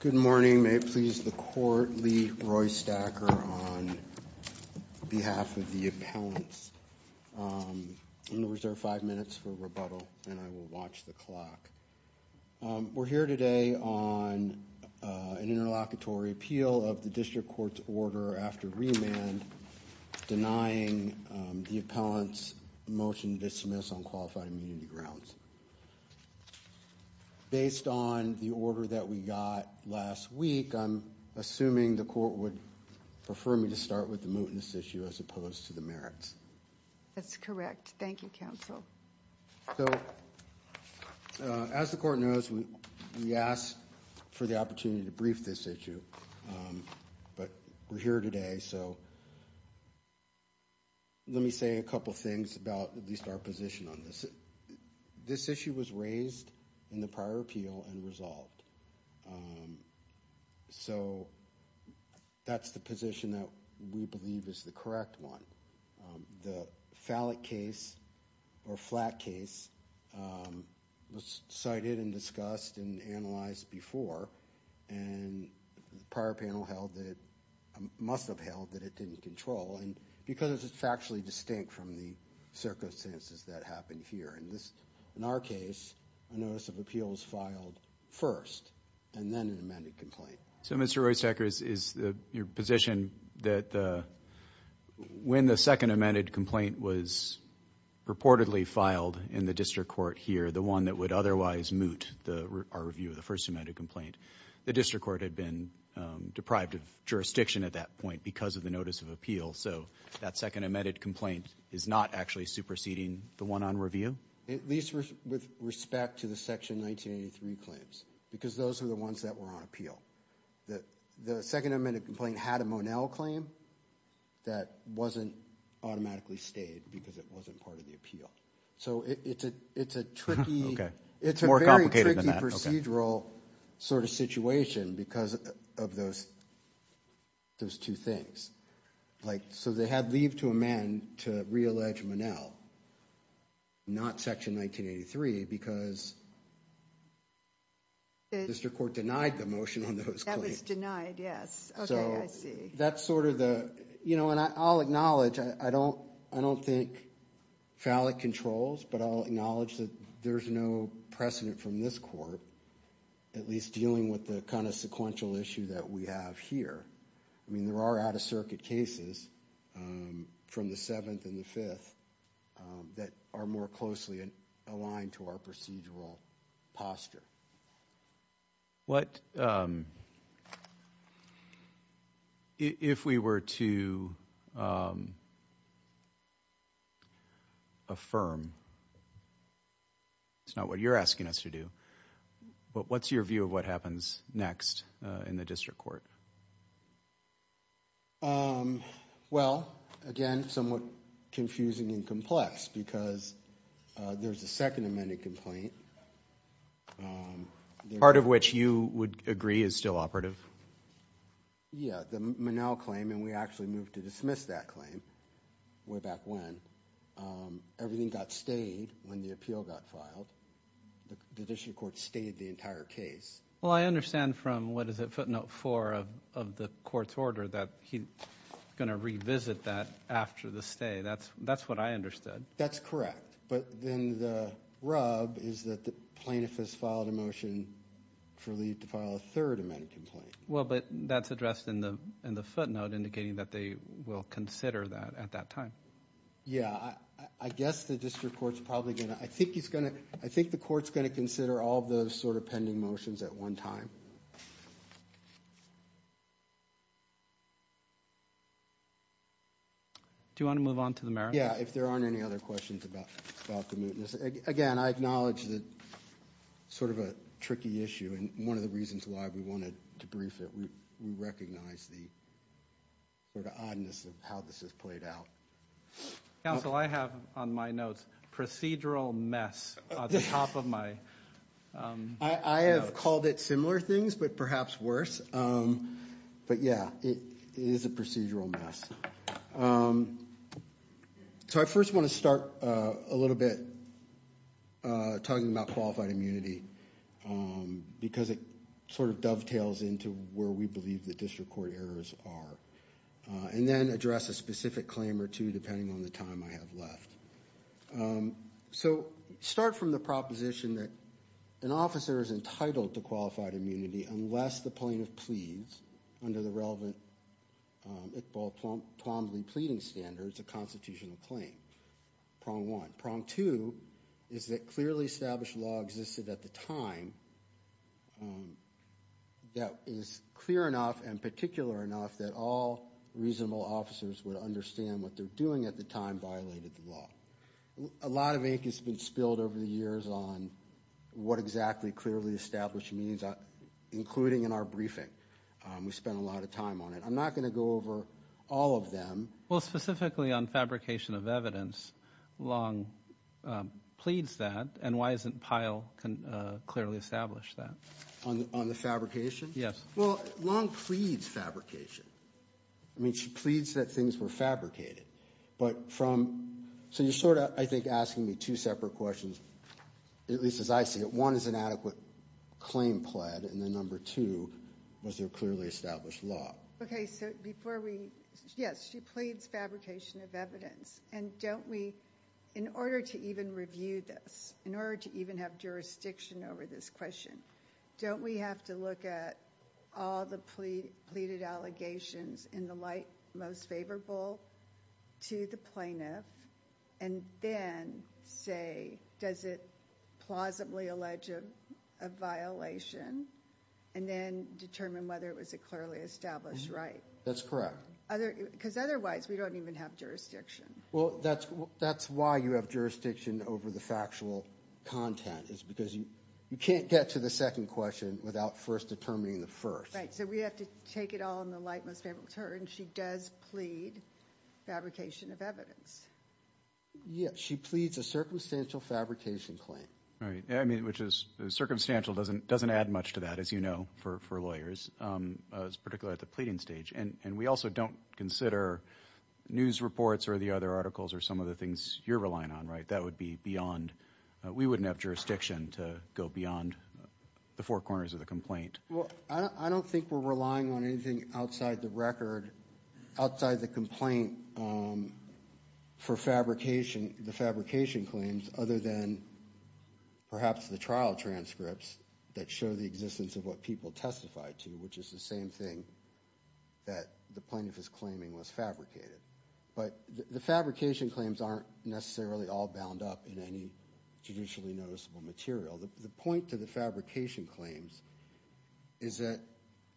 Good morning. May it please the court, Lee Roy Stacker on behalf of the appellants. I'm going to reserve five minutes for rebuttal and I will watch the clock. We're here today on an interlocutory appeal of the district court's order after remand denying the appellant's motion to dismiss on qualified immunity grounds. Based on the order that we got last week, I'm assuming the court would prefer me to start with the mootness issue as opposed to the merits. That's correct. Thank you, counsel. So as the court knows, we asked for the opportunity to brief this issue, but we're here today. So let me say a couple of things about at least our position on this. This issue was raised in the prior appeal and resolved. So that's the position that we believe is the correct one. The fallot case, or flat case, was cited and discussed and analyzed before. And the prior panel must have held that it didn't control, because it's factually distinct from the circumstances that happened here. In our case, a notice of appeal was filed first and then an amended complaint. So, Mr. Roystekers, is your position that when the second amended complaint was purportedly filed in the district court here, the one that would otherwise moot our review of the first amended complaint, the district court had been deprived of jurisdiction at that point because of the notice of appeal. So that second amended complaint is not actually superseding the one on review? At least with respect to the Section 1983 claims, because those were the ones that were on appeal. The second amended complaint had a Monell claim that wasn't automatically stayed because it wasn't part of the appeal. So it's a tricky procedural sort of situation because of those two things. So they had leave to amend to reallege Monell, not Section 1983, because the district court denied the motion on those claims. That was denied, yes. Okay, I see. So that's sort of the, you know, and I'll acknowledge, I don't think fallot controls, but I'll acknowledge that there's no precedent from this court, at least dealing with the kind of sequential issue that we have here. I mean, there are out-of-circuit cases from the 7th and the 5th that are more closely aligned to our procedural posture. What, if we were to affirm, it's not what you're asking us to do, but what's your view of what happens next in the district court? Well, again, somewhat confusing and complex, because there's a second amended complaint. Part of which you would agree is still operative? Yeah, the Monell claim, and we actually moved to dismiss that claim way back when. Everything got stayed when the appeal got filed. The district court stayed the entire case. Well, I understand from, what is it, footnote 4 of the court's order that he's going to revisit that after the stay. That's what I understood. That's correct. But then the rub is that the plaintiff has filed a motion for Lee to file a third amended complaint. Well, but that's addressed in the footnote, indicating that they will consider that at that time. Yeah, I guess the district court's probably going to, I think he's going to, I think the court's going to consider all of those sort of pending motions at one time. Do you want to move on to the merits? Yeah, if there aren't any other questions about the mootness. Again, I acknowledge that sort of a tricky issue. And one of the reasons why we wanted to brief it, we recognize the oddness of how this has played out. Counsel, I have on my notes procedural mess at the top of my notes. I have called it similar things, but perhaps worse. But, yeah, it is a procedural mess. So I first want to start a little bit talking about qualified immunity, because it sort of dovetails into where we believe the district court errors are. And then address a specific claim or two, depending on the time I have left. So start from the proposition that an officer is entitled to qualified immunity unless the plaintiff pleads under the relevant Iqbal Twombly pleading standards, a constitutional claim, prong one. Prong two is that clearly established law existed at the time that is clear enough and particular enough that all reasonable officers would understand what they're doing at the time violated the law. A lot of ink has been spilled over the years on what exactly clearly established means, including in our briefing. We spent a lot of time on it. I'm not going to go over all of them. Well, specifically on fabrication of evidence, Long pleads that, and why isn't Pyle clearly established that? On the fabrication? Yes. Well, Long pleads fabrication. I mean, she pleads that things were fabricated. But from so you're sort of, I think, asking me two separate questions, at least as I see it. One is an adequate claim pled, and then number two was there clearly established law. Okay, so before we, yes, she pleads fabrication of evidence. And don't we, in order to even review this, in order to even have jurisdiction over this question, don't we have to look at all the pleaded allegations in the light most favorable to the plaintiff? And then say, does it plausibly allege a violation? And then determine whether it was a clearly established right. That's correct. Because otherwise we don't even have jurisdiction. Well, that's why you have jurisdiction over the factual content, is because you can't get to the second question without first determining the first. Right, so we have to take it all in the light most favorable to her. And she does plead fabrication of evidence. Yes, she pleads a circumstantial fabrication claim. Right, which is, circumstantial doesn't add much to that, as you know, for lawyers, particularly at the pleading stage. And we also don't consider news reports or the other articles or some of the things you're relying on, right? That would be beyond, we wouldn't have jurisdiction to go beyond the four corners of the complaint. Well, I don't think we're relying on anything outside the record, outside the complaint for fabrication, the fabrication claims, other than perhaps the trial transcripts that show the existence of what people testified to, which is the same thing that the plaintiff is claiming was fabricated. But the fabrication claims aren't necessarily all bound up in any judicially noticeable material. The point to the fabrication claims is that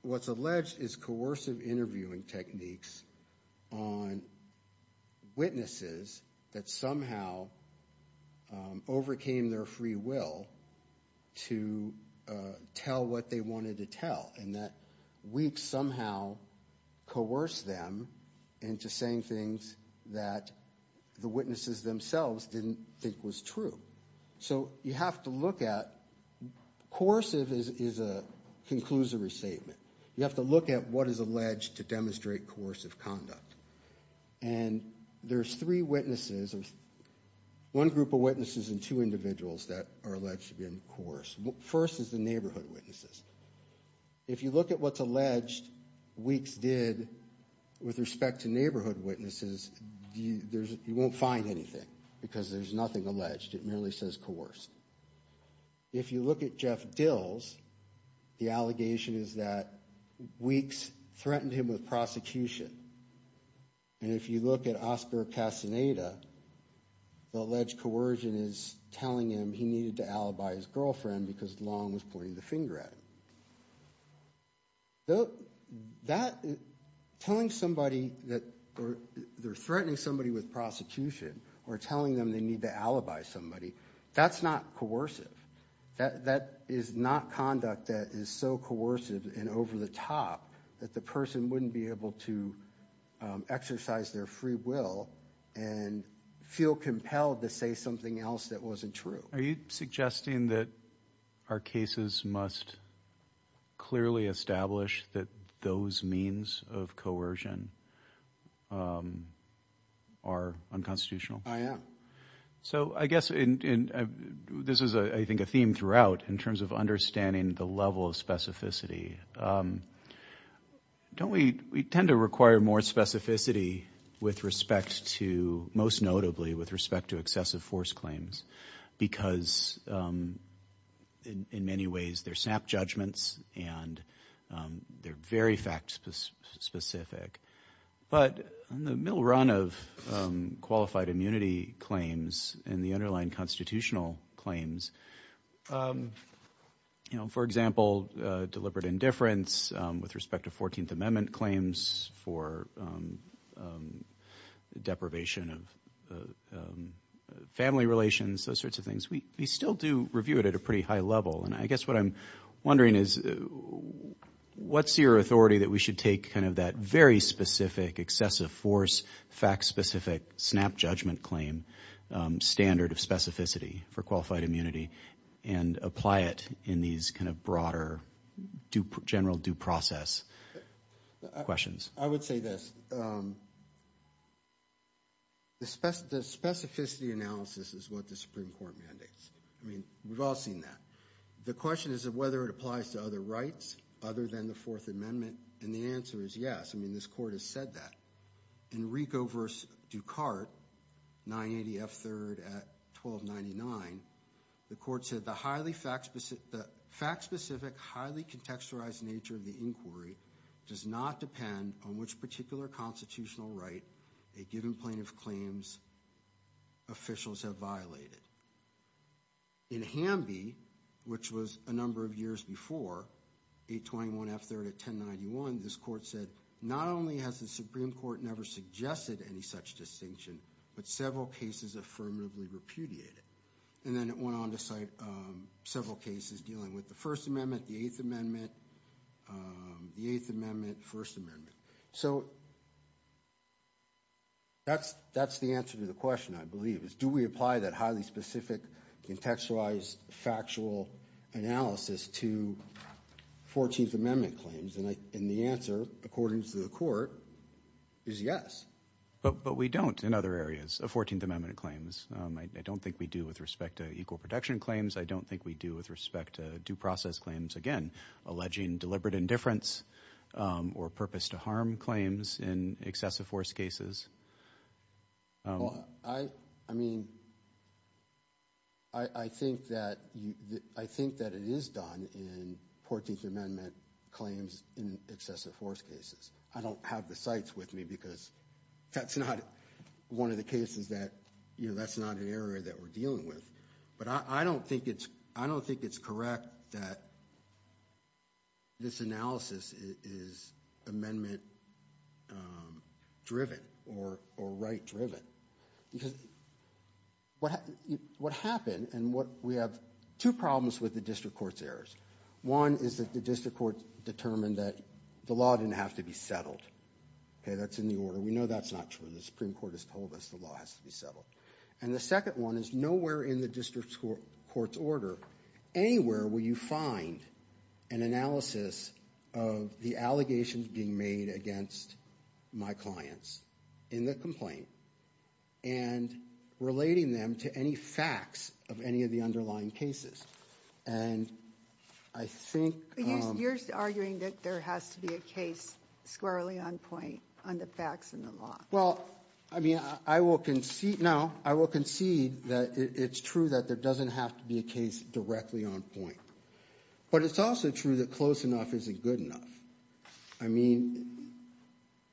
what's alleged is coercive interviewing techniques on witnesses that somehow overcame their free will to tell what they wanted to tell, and that we've somehow coerced them into saying things that the witnesses themselves didn't think was true. So you have to look at, coercive is a conclusory statement. You have to look at what is alleged to demonstrate coercive conduct. And there's three witnesses, one group of witnesses and two individuals that are alleged to be in coerce. First is the neighborhood witnesses. If you look at what's alleged Weeks did with respect to neighborhood witnesses, you won't find anything because there's nothing alleged. It merely says coerced. If you look at Jeff Dills, the allegation is that Weeks threatened him with prosecution. And if you look at Oscar Castaneda, the alleged coercion is telling him he needed to alibi his girlfriend because Long was pointing the finger at him. Telling somebody that they're threatening somebody with prosecution or telling them they need to alibi somebody, that's not coercive. That is not conduct that is so coercive and over the top that the person wouldn't be able to exercise their free will and feel compelled to say something else that wasn't true. Are you suggesting that our cases must clearly establish that those means of coercion are unconstitutional? I am. So I guess this is, I think, a theme throughout in terms of understanding the level of specificity. Don't we tend to require more specificity with respect to, most notably, with respect to excessive force claims because, in many ways, they're snap judgments and they're very fact specific. But in the middle run of qualified immunity claims and the underlying constitutional claims, for example, deliberate indifference with respect to 14th Amendment claims for deprivation of family relations, those sorts of things, we still do review it at a pretty high level. And I guess what I'm wondering is what's your authority that we should take kind of that very specific excessive force, fact specific snap judgment claim standard of specificity for qualified immunity and apply it in these kind of broader general due process questions? I would say this. The specificity analysis is what the Supreme Court mandates. I mean, we've all seen that. The question is whether it applies to other rights other than the Fourth Amendment. And the answer is yes. I mean, this Court has said that. In Rigo v. Ducart, 980 F. 3rd at 1299, the Court said, the fact-specific, highly contextualized nature of the inquiry does not depend on which particular constitutional right a given plaintiff claims officials have violated. In Hamby, which was a number of years before, 821 F. 3rd at 1091, this Court said, not only has the Supreme Court never suggested any such distinction, but several cases affirmatively repudiated. And then it went on to cite several cases dealing with the First Amendment, the Eighth Amendment, the Eighth Amendment, First Amendment. So that's the answer to the question, I believe, is do we apply that highly specific contextualized factual analysis to Fourteenth Amendment claims? And the answer, according to the Court, is yes. But we don't in other areas of Fourteenth Amendment claims. I don't think we do with respect to equal protection claims. I don't think we do with respect to due process claims, again, alleging deliberate indifference or purpose to harm claims in excessive force cases. I mean, I think that it is done in Fourteenth Amendment claims in excessive force cases. I don't have the cites with me because that's not one of the cases that, you know, that's not an area that we're dealing with. But I don't think it's correct that this analysis is amendment driven or right driven. Because what happened and what we have two problems with the district court's errors. One is that the district court determined that the law didn't have to be settled. That's in the order. We know that's not true. The Supreme Court has told us the law has to be settled. And the second one is nowhere in the district court's order, anywhere will you find an analysis of the allegations being made against my clients in the complaint and relating them to any facts of any of the underlying cases. And I think... You're arguing that there has to be a case squarely on point on the facts in the law. Well, I mean, I will concede now, I will concede that it's true that there doesn't have to be a case directly on point. But it's also true that close enough isn't good enough. I mean,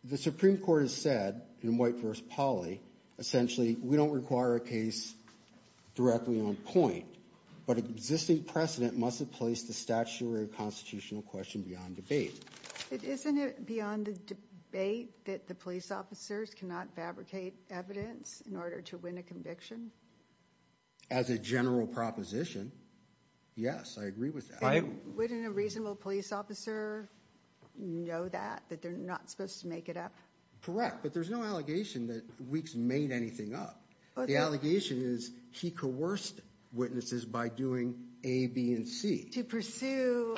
the Supreme Court has said in White v. Polly, essentially, we don't require a case directly on point. But existing precedent must have placed the statutory constitutional question beyond debate. Isn't it beyond the debate that the police officers cannot fabricate evidence in order to win a conviction? As a general proposition, yes, I agree with that. Wouldn't a reasonable police officer know that, that they're not supposed to make it up? Correct, but there's no allegation that Weeks made anything up. The allegation is he coerced witnesses by doing A, B, and C. To pursue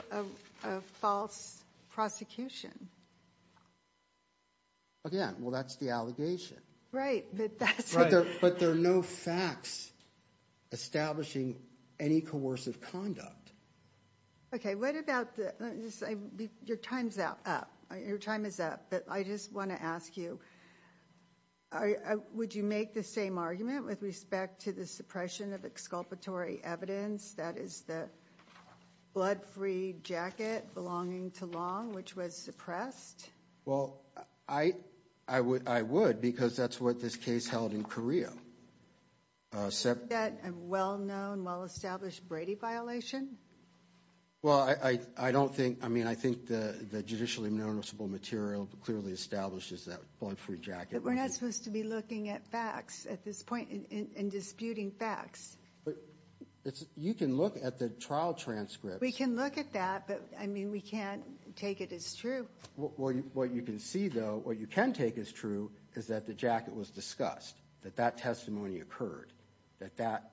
a false prosecution. Again, well, that's the allegation. Right, but that's... But there are no facts establishing any coercive conduct. Okay, what about the... your time's up, your time is up. But I just want to ask you, would you make the same argument with respect to the suppression of exculpatory evidence? That is the blood-free jacket belonging to Long, which was suppressed? Well, I would, because that's what this case held in Korea. Is that a well-known, well-established Brady violation? Well, I don't think... I mean, I think the judicially noticeable material clearly establishes that blood-free jacket. But we're not supposed to be looking at facts at this point and disputing facts. But you can look at the trial transcripts... We can look at that, but, I mean, we can't take it as true. What you can see, though, what you can take as true, is that the jacket was discussed. That that testimony occurred. That that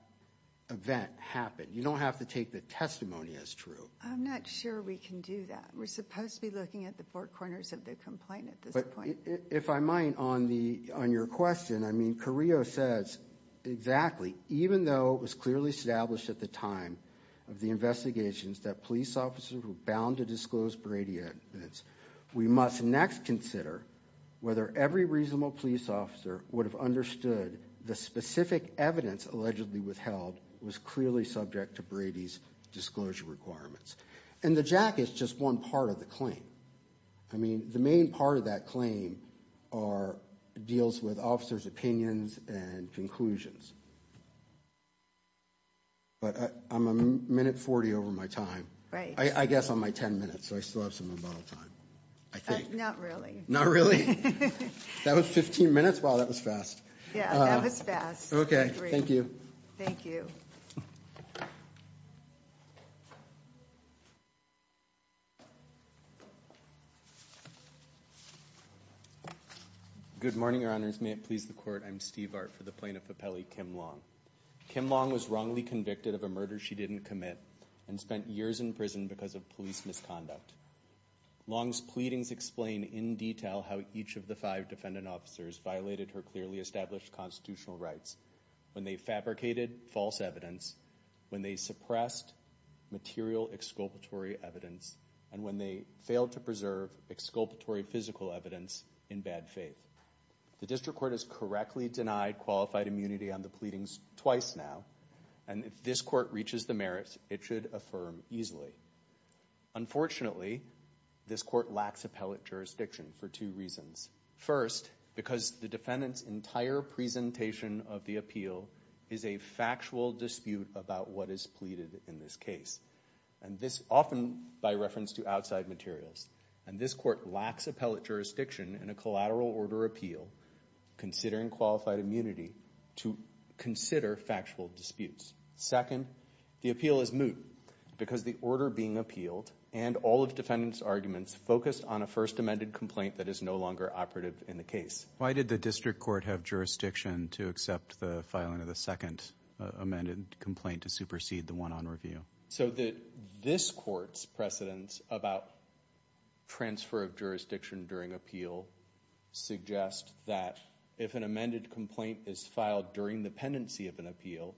event happened. You don't have to take the testimony as true. I'm not sure we can do that. We're supposed to be looking at the four corners of the complaint at this point. If I might, on your question, I mean, Carrillo says exactly, even though it was clearly established at the time of the investigations that police officers were bound to disclose Brady evidence, we must next consider whether every reasonable police officer would have understood the specific evidence allegedly withheld was clearly subject to Brady's disclosure requirements. And the jacket's just one part of the claim. I mean, the main part of that claim deals with officers' opinions and conclusions. But I'm a minute 40 over my time. I guess on my 10 minutes, so I still have some unbottled time. I think. Not really. Not really? That was 15 minutes? Wow, that was fast. Yeah, that was fast. Okay. Thank you. Thank you. Good morning, Your Honors. May it please the Court. I'm Steve Art for the Plaintiff Appellee, Kim Long. Kim Long was wrongly convicted of a murder she didn't commit and spent years in prison because of police misconduct. Long's pleadings explain in detail how each of the five defendant officers violated her clearly established constitutional rights when they fabricated false evidence, when they suppressed material exculpatory evidence, and when they failed to preserve exculpatory physical evidence in bad faith. The District Court has correctly denied qualified immunity on the pleadings twice now, and if this Court reaches the merits, it should affirm easily. Unfortunately, this Court lacks appellate jurisdiction for two reasons. First, because the defendant's entire presentation of the appeal is a factual dispute about what is pleaded in this case. And this often by reference to outside materials. And this Court lacks appellate jurisdiction in a collateral order appeal considering qualified immunity to consider factual disputes. Second, the appeal is moot because the order being appealed and all of the defendant's arguments focus on a first amended complaint that is no longer operative in the case. Why did the District Court have jurisdiction to accept the filing of the second amended complaint to supersede the one on review? So this Court's precedence about transfer of jurisdiction during appeal suggests that if an amended complaint is filed during the pendency of an appeal,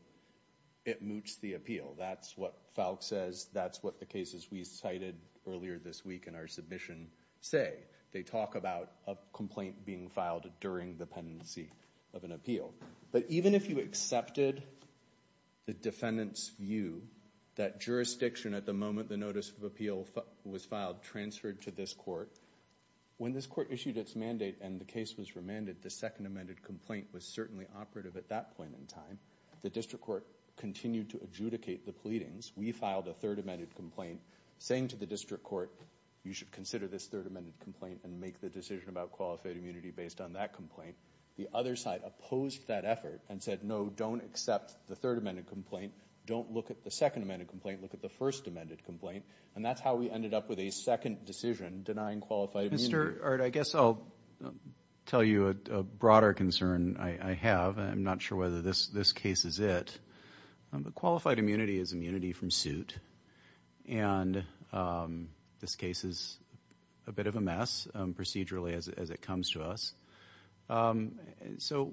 it moots the appeal. That's what Falk says. That's what the cases we cited earlier this week in our submission say. They talk about a complaint being filed during the pendency of an appeal. But even if you accepted the defendant's view that jurisdiction at the moment the notice of appeal was filed transferred to this Court, when this Court issued its mandate and the case was remanded, the second amended complaint was certainly operative at that point in time. The District Court continued to adjudicate the pleadings. We filed a third amended complaint saying to the District Court, you should consider this third amended complaint and make the decision about qualified immunity based on that complaint. The other side opposed that effort and said, no, don't accept the third amended complaint. Don't look at the second amended complaint. Look at the first amended complaint. And that's how we ended up with a second decision denying qualified immunity. Mr. Art, I guess I'll tell you a broader concern I have. I'm not sure whether this case is it. Qualified immunity is immunity from suit. And this case is a bit of a mess procedurally as it comes to us. So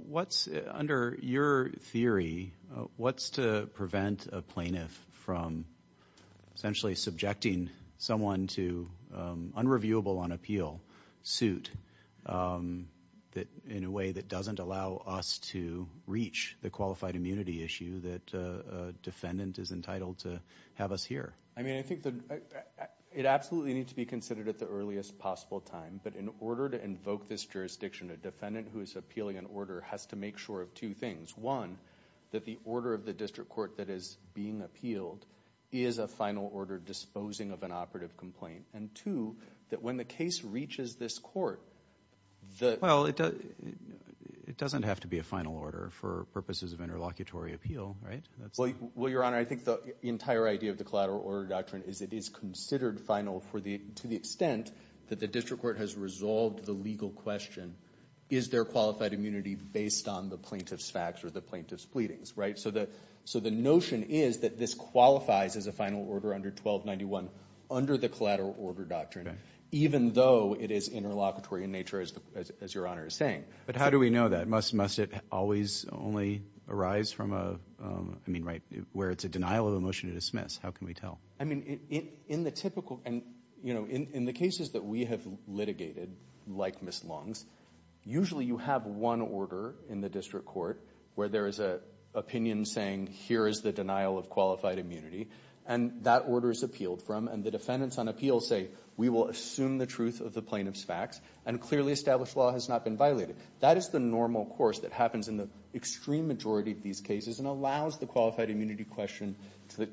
under your theory, what's to prevent a plaintiff from essentially subjecting someone to unreviewable on appeal suit in a way that doesn't allow us to reach the qualified immunity issue that a defendant is entitled to have us hear? I mean, I think that it absolutely needs to be considered at the earliest possible time. But in order to invoke this jurisdiction, a defendant who is appealing an order has to make sure of two things. One, that the order of the District Court that is being appealed is a final order disposing of an operative complaint. And two, that when the case reaches this court, the… Well, it doesn't have to be a final order for purposes of interlocutory appeal, right? Well, Your Honor, I think the entire idea of the collateral order doctrine is it is considered final to the extent that the District Court has resolved the legal question, is there qualified immunity based on the plaintiff's facts or the plaintiff's pleadings, right? So the notion is that this qualifies as a final order under 1291 under the collateral order doctrine, even though it is interlocutory in nature, as Your Honor is saying. But how do we know that? Must it always only arise from a… I mean, right, where it's a denial of a motion to dismiss. How can we tell? I mean, in the typical… In the cases that we have litigated, like Ms. Long's, usually you have one order in the District Court where there is an opinion saying, here is the denial of qualified immunity, and that order is appealed from, and the defendants on appeal say, we will assume the truth of the plaintiff's facts and clearly established law has not been violated. That is the normal course that happens in the extreme majority of these cases and allows the qualified immunity question, to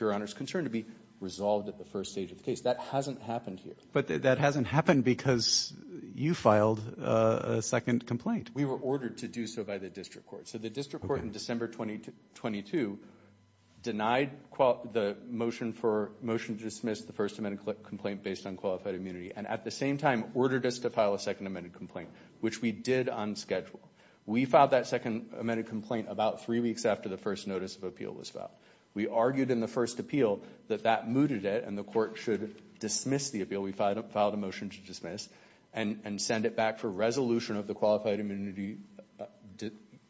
Your Honor's concern, to be resolved at the first stage of the case. That hasn't happened here. But that hasn't happened because you filed a second complaint. We were ordered to do so by the District Court. So the District Court in December 2022 denied the motion for motion to dismiss the First Amendment complaint based on qualified immunity and at the same time ordered us to file a Second Amendment complaint, which we did on schedule. We filed that Second Amendment complaint about three weeks after the first notice of appeal was filed. We argued in the first appeal that that mooted it and the court should dismiss the appeal. We filed a motion to dismiss and send it back for resolution of the qualified immunity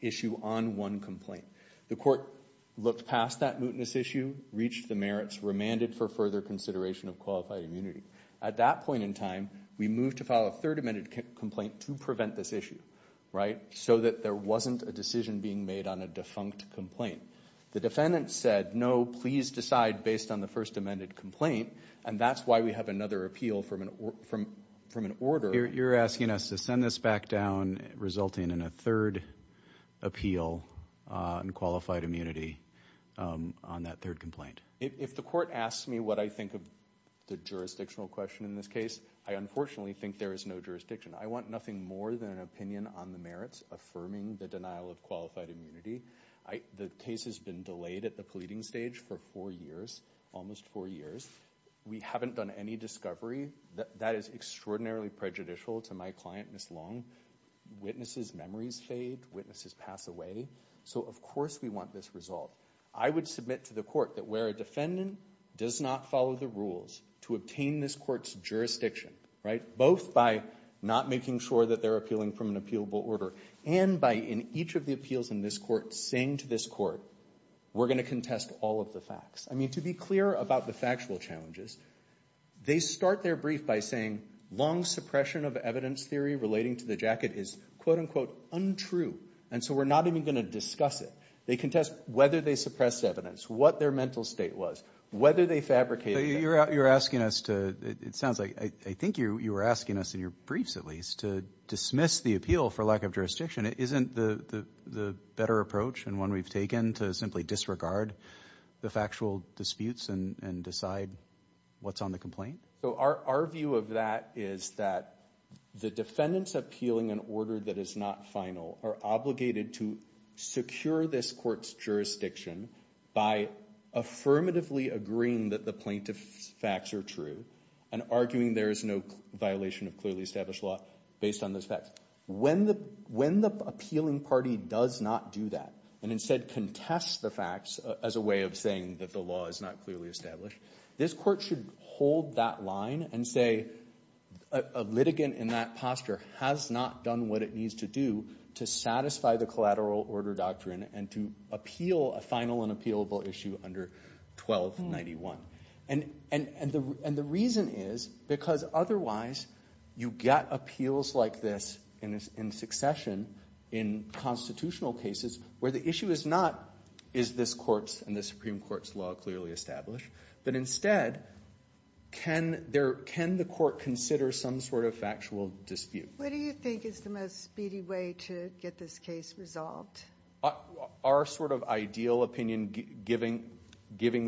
issue on one complaint. The court looked past that mootness issue, reached the merits, remanded for further consideration of qualified immunity. At that point in time, we moved to file a Third Amendment complaint to prevent this issue, right? So that there wasn't a decision being made on a defunct complaint. The defendant said, no, please decide based on the First Amendment complaint and that's why we have another appeal from an order. You're asking us to send this back down resulting in a third appeal on qualified immunity on that third complaint. If the court asks me what I think of the jurisdictional question in this case, I unfortunately think there is no jurisdiction. I want nothing more than an opinion on the merits affirming the denial of qualified immunity. The case has been delayed at the pleading stage for four years, almost four years. We haven't done any discovery. That is extraordinarily prejudicial to my client, Ms. Long. Witnesses' memories fade. Witnesses pass away. So of course we want this resolved. I would submit to the court that where a defendant does not follow the rules to obtain this court's jurisdiction, right, both by not making sure that they're appealing from an appealable order and by, in each of the appeals in this court, saying to this court, we're going to contest all of the facts. I mean, to be clear about the factual challenges, they start their brief by saying Long's suppression of evidence theory relating to the jacket is, quote-unquote, untrue. And so we're not even going to discuss it. They contest whether they suppressed evidence, what their mental state was, whether they fabricated it. So you're asking us to, it sounds like, I think you were asking us in your briefs at least to dismiss the appeal for lack of jurisdiction. Isn't the better approach and one we've taken to simply disregard the factual disputes and decide what's on the complaint? So our view of that is that the defendants appealing an order that is not final are obligated to secure this court's jurisdiction by affirmatively agreeing that the plaintiff's facts are true and arguing there is no violation of clearly established law based on those facts. When the appealing party does not do that and instead contests the facts as a way of saying that the law is not clearly established, this court should hold that line and say a litigant in that posture has not done what it needs to do to satisfy the collateral order doctrine and to appeal a final and appealable issue under 1291. And the reason is because otherwise you get appeals like this in succession in constitutional cases where the issue is not is this court's and the Supreme Court's law clearly established, but instead can the court consider some sort of factual dispute? What do you think is the most speedy way to get this case resolved? Our sort of ideal opinion, given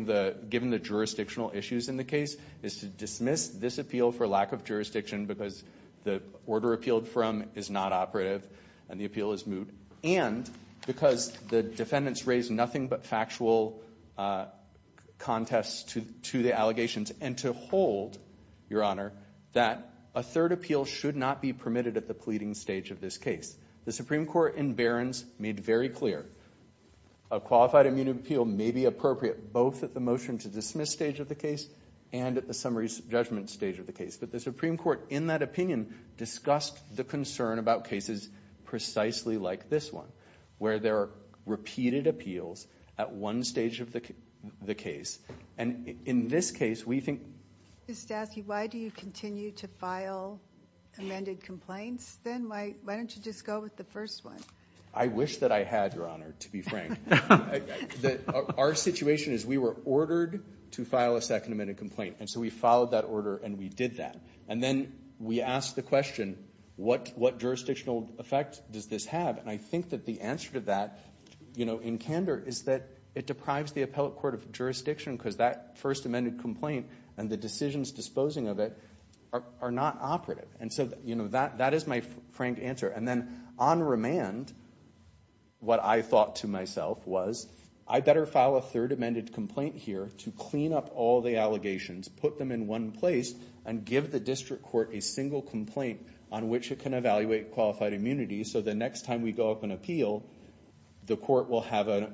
the jurisdictional issues in the case, is to dismiss this appeal for lack of jurisdiction because the order appealed from is not operative and the appeal is moot, and because the defendants raise nothing but factual contests to the allegations and to hold, Your Honor, that a third appeal should not be permitted at the pleading stage of this case. The Supreme Court in Behrens made very clear a qualified immunity appeal may be appropriate both at the motion to dismiss stage of the case and at the summary judgment stage of the case, but the Supreme Court in that opinion discussed the concern about cases precisely like this one, where there are repeated appeals at one stage of the case, and in this case we think Ms. Stavsky, why do you continue to file amended complaints, then? Why don't you just go with the first one? I wish that I had, Your Honor, to be frank. Our situation is we were ordered to file a second amended complaint, and so we followed that order and we did that. And then we asked the question, what jurisdictional effect does this have? And I think that the answer to that, in candor, is that it deprives the appellate court of jurisdiction because that first amended complaint and the decisions disposing of it are not operative. And so that is my frank answer. And then on remand, what I thought to myself was, I'd better file a third amended complaint here to clean up all the allegations, put them in one place, and give the district court a single complaint on which it can evaluate qualified immunity so the next time we go up and appeal, the court will have a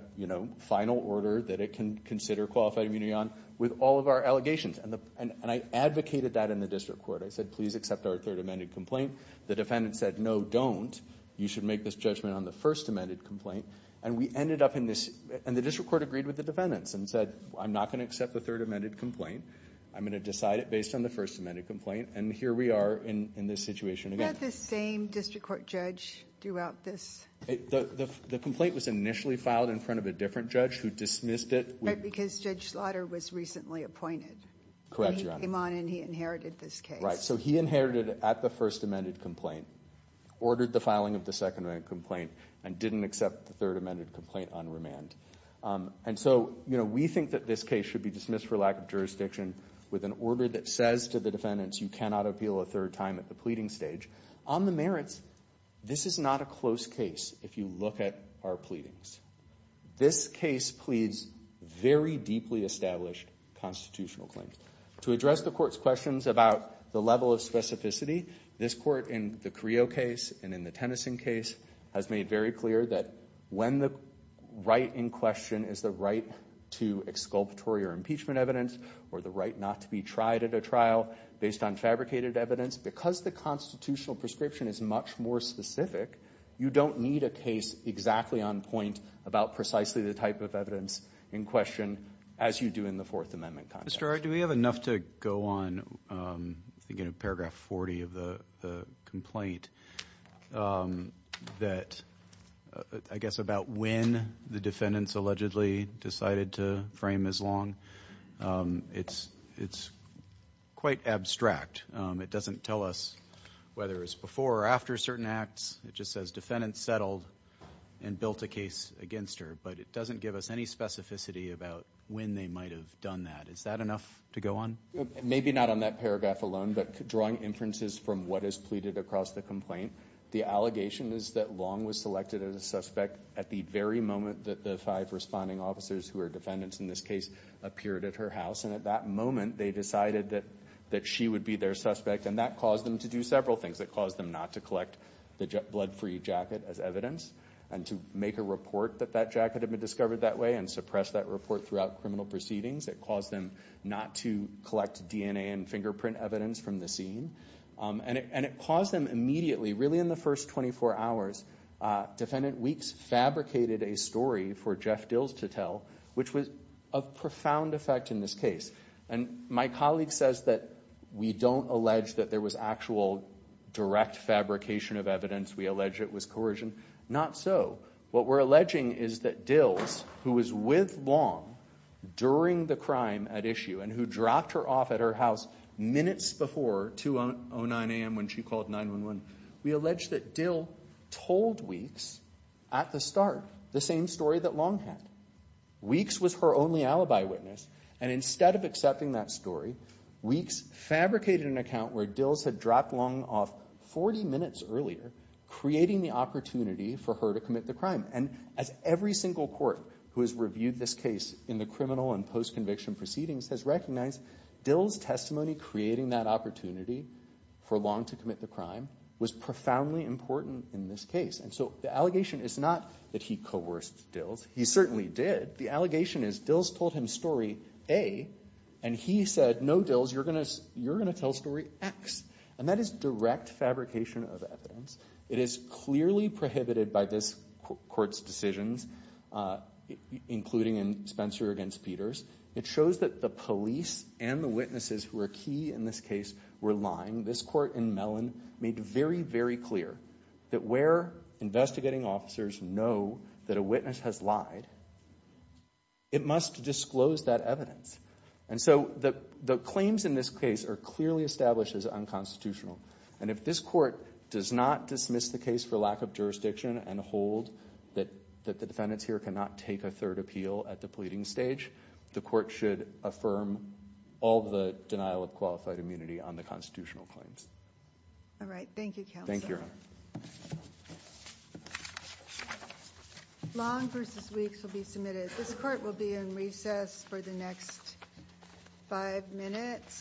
final order that it can consider qualified immunity on with all of our allegations. And I advocated that in the district court. I said, please accept our third amended complaint. The defendant said, no, don't. You should make this judgment on the first amended complaint. And we ended up in this, and the district court agreed with the defendants and said, I'm not going to accept the third amended complaint. I'm going to decide it based on the first amended complaint. And here we are in this situation again. Was that the same district court judge throughout this? The complaint was initially filed in front of a different judge who dismissed it. Right, because Judge Slaughter was recently appointed. Correct, Your Honor. And he came on and he inherited this case. Right, so he inherited it at the first amended complaint, ordered the filing of the second amended complaint, and didn't accept the third amended complaint on remand. And so, you know, we think that this case should be dismissed for lack of jurisdiction with an order that says to the defendants, you cannot appeal a third time at the pleading stage. On the merits, this is not a close case if you look at our pleadings. This case pleads very deeply established constitutional claims. To address the court's questions about the level of specificity, this court in the Creo case and in the Tennyson case has made very clear that when the right in question is the right to exculpatory or impeachment evidence or the right not to be tried at a trial based on fabricated evidence, because the constitutional prescription is much more specific, you don't need a case exactly on point about precisely the type of evidence in question as you do in the Fourth Amendment context. Mr. O'Rourke, do we have enough to go on, I think in paragraph 40 of the complaint, that I guess about when the defendants allegedly decided to frame as long? It's quite abstract. It doesn't tell us whether it's before or after certain acts. It just says defendants settled and built a case against her, but it doesn't give us any specificity about when they might have done that. Is that enough to go on? Maybe not on that paragraph alone, but drawing inferences from what is pleaded across the complaint, the allegation is that Long was selected as a suspect at the very moment that the five responding officers who are defendants in this case appeared at her house, and at that moment they decided that she would be their suspect, and that caused them to do several things. It caused them not to collect the blood-free jacket as evidence and to make a report that that jacket had been discovered that way and suppress that report throughout criminal proceedings. It caused them not to collect DNA and fingerprint evidence from the scene, and it caused them immediately, really in the first 24 hours, Defendant Weeks fabricated a story for Jeff Dills to tell, which was of profound effect in this case. My colleague says that we don't allege that there was actual direct fabrication of evidence. We allege it was coercion. Not so. What we're alleging is that Dills, who was with Long during the crime at issue and who dropped her off at her house minutes before 2.09 a.m. when she called 911, we allege that Dills told Weeks at the start the same story that Long had. Weeks was her only alibi witness, and instead of accepting that story, Weeks fabricated an account where Dills had dropped Long off 40 minutes earlier, creating the opportunity for her to commit the crime. And as every single court who has reviewed this case in the criminal and post-conviction proceedings has recognized, Dills' testimony creating that opportunity for Long to commit the crime was profoundly important in this case. And so the allegation is not that he coerced Dills. He certainly did. The allegation is Dills told him story A, and he said, No, Dills, you're going to tell story X. And that is direct fabrication of evidence. It is clearly prohibited by this court's decisions, including in Spencer v. Peters. It shows that the police and the witnesses who are key in this case were lying. This court in Mellon made very, very clear that where investigating officers know that a witness has lied, it must disclose that evidence. And so the claims in this case are clearly established as unconstitutional. And if this court does not dismiss the case for lack of jurisdiction and hold that the defendants here cannot take a third appeal at the pleading stage, the court should affirm all the denial of qualified immunity on the constitutional claims. All right. Thank you, counsel. Thank you, Your Honor. Long v. Weeks will be submitted. This court will be in recess for the next five minutes.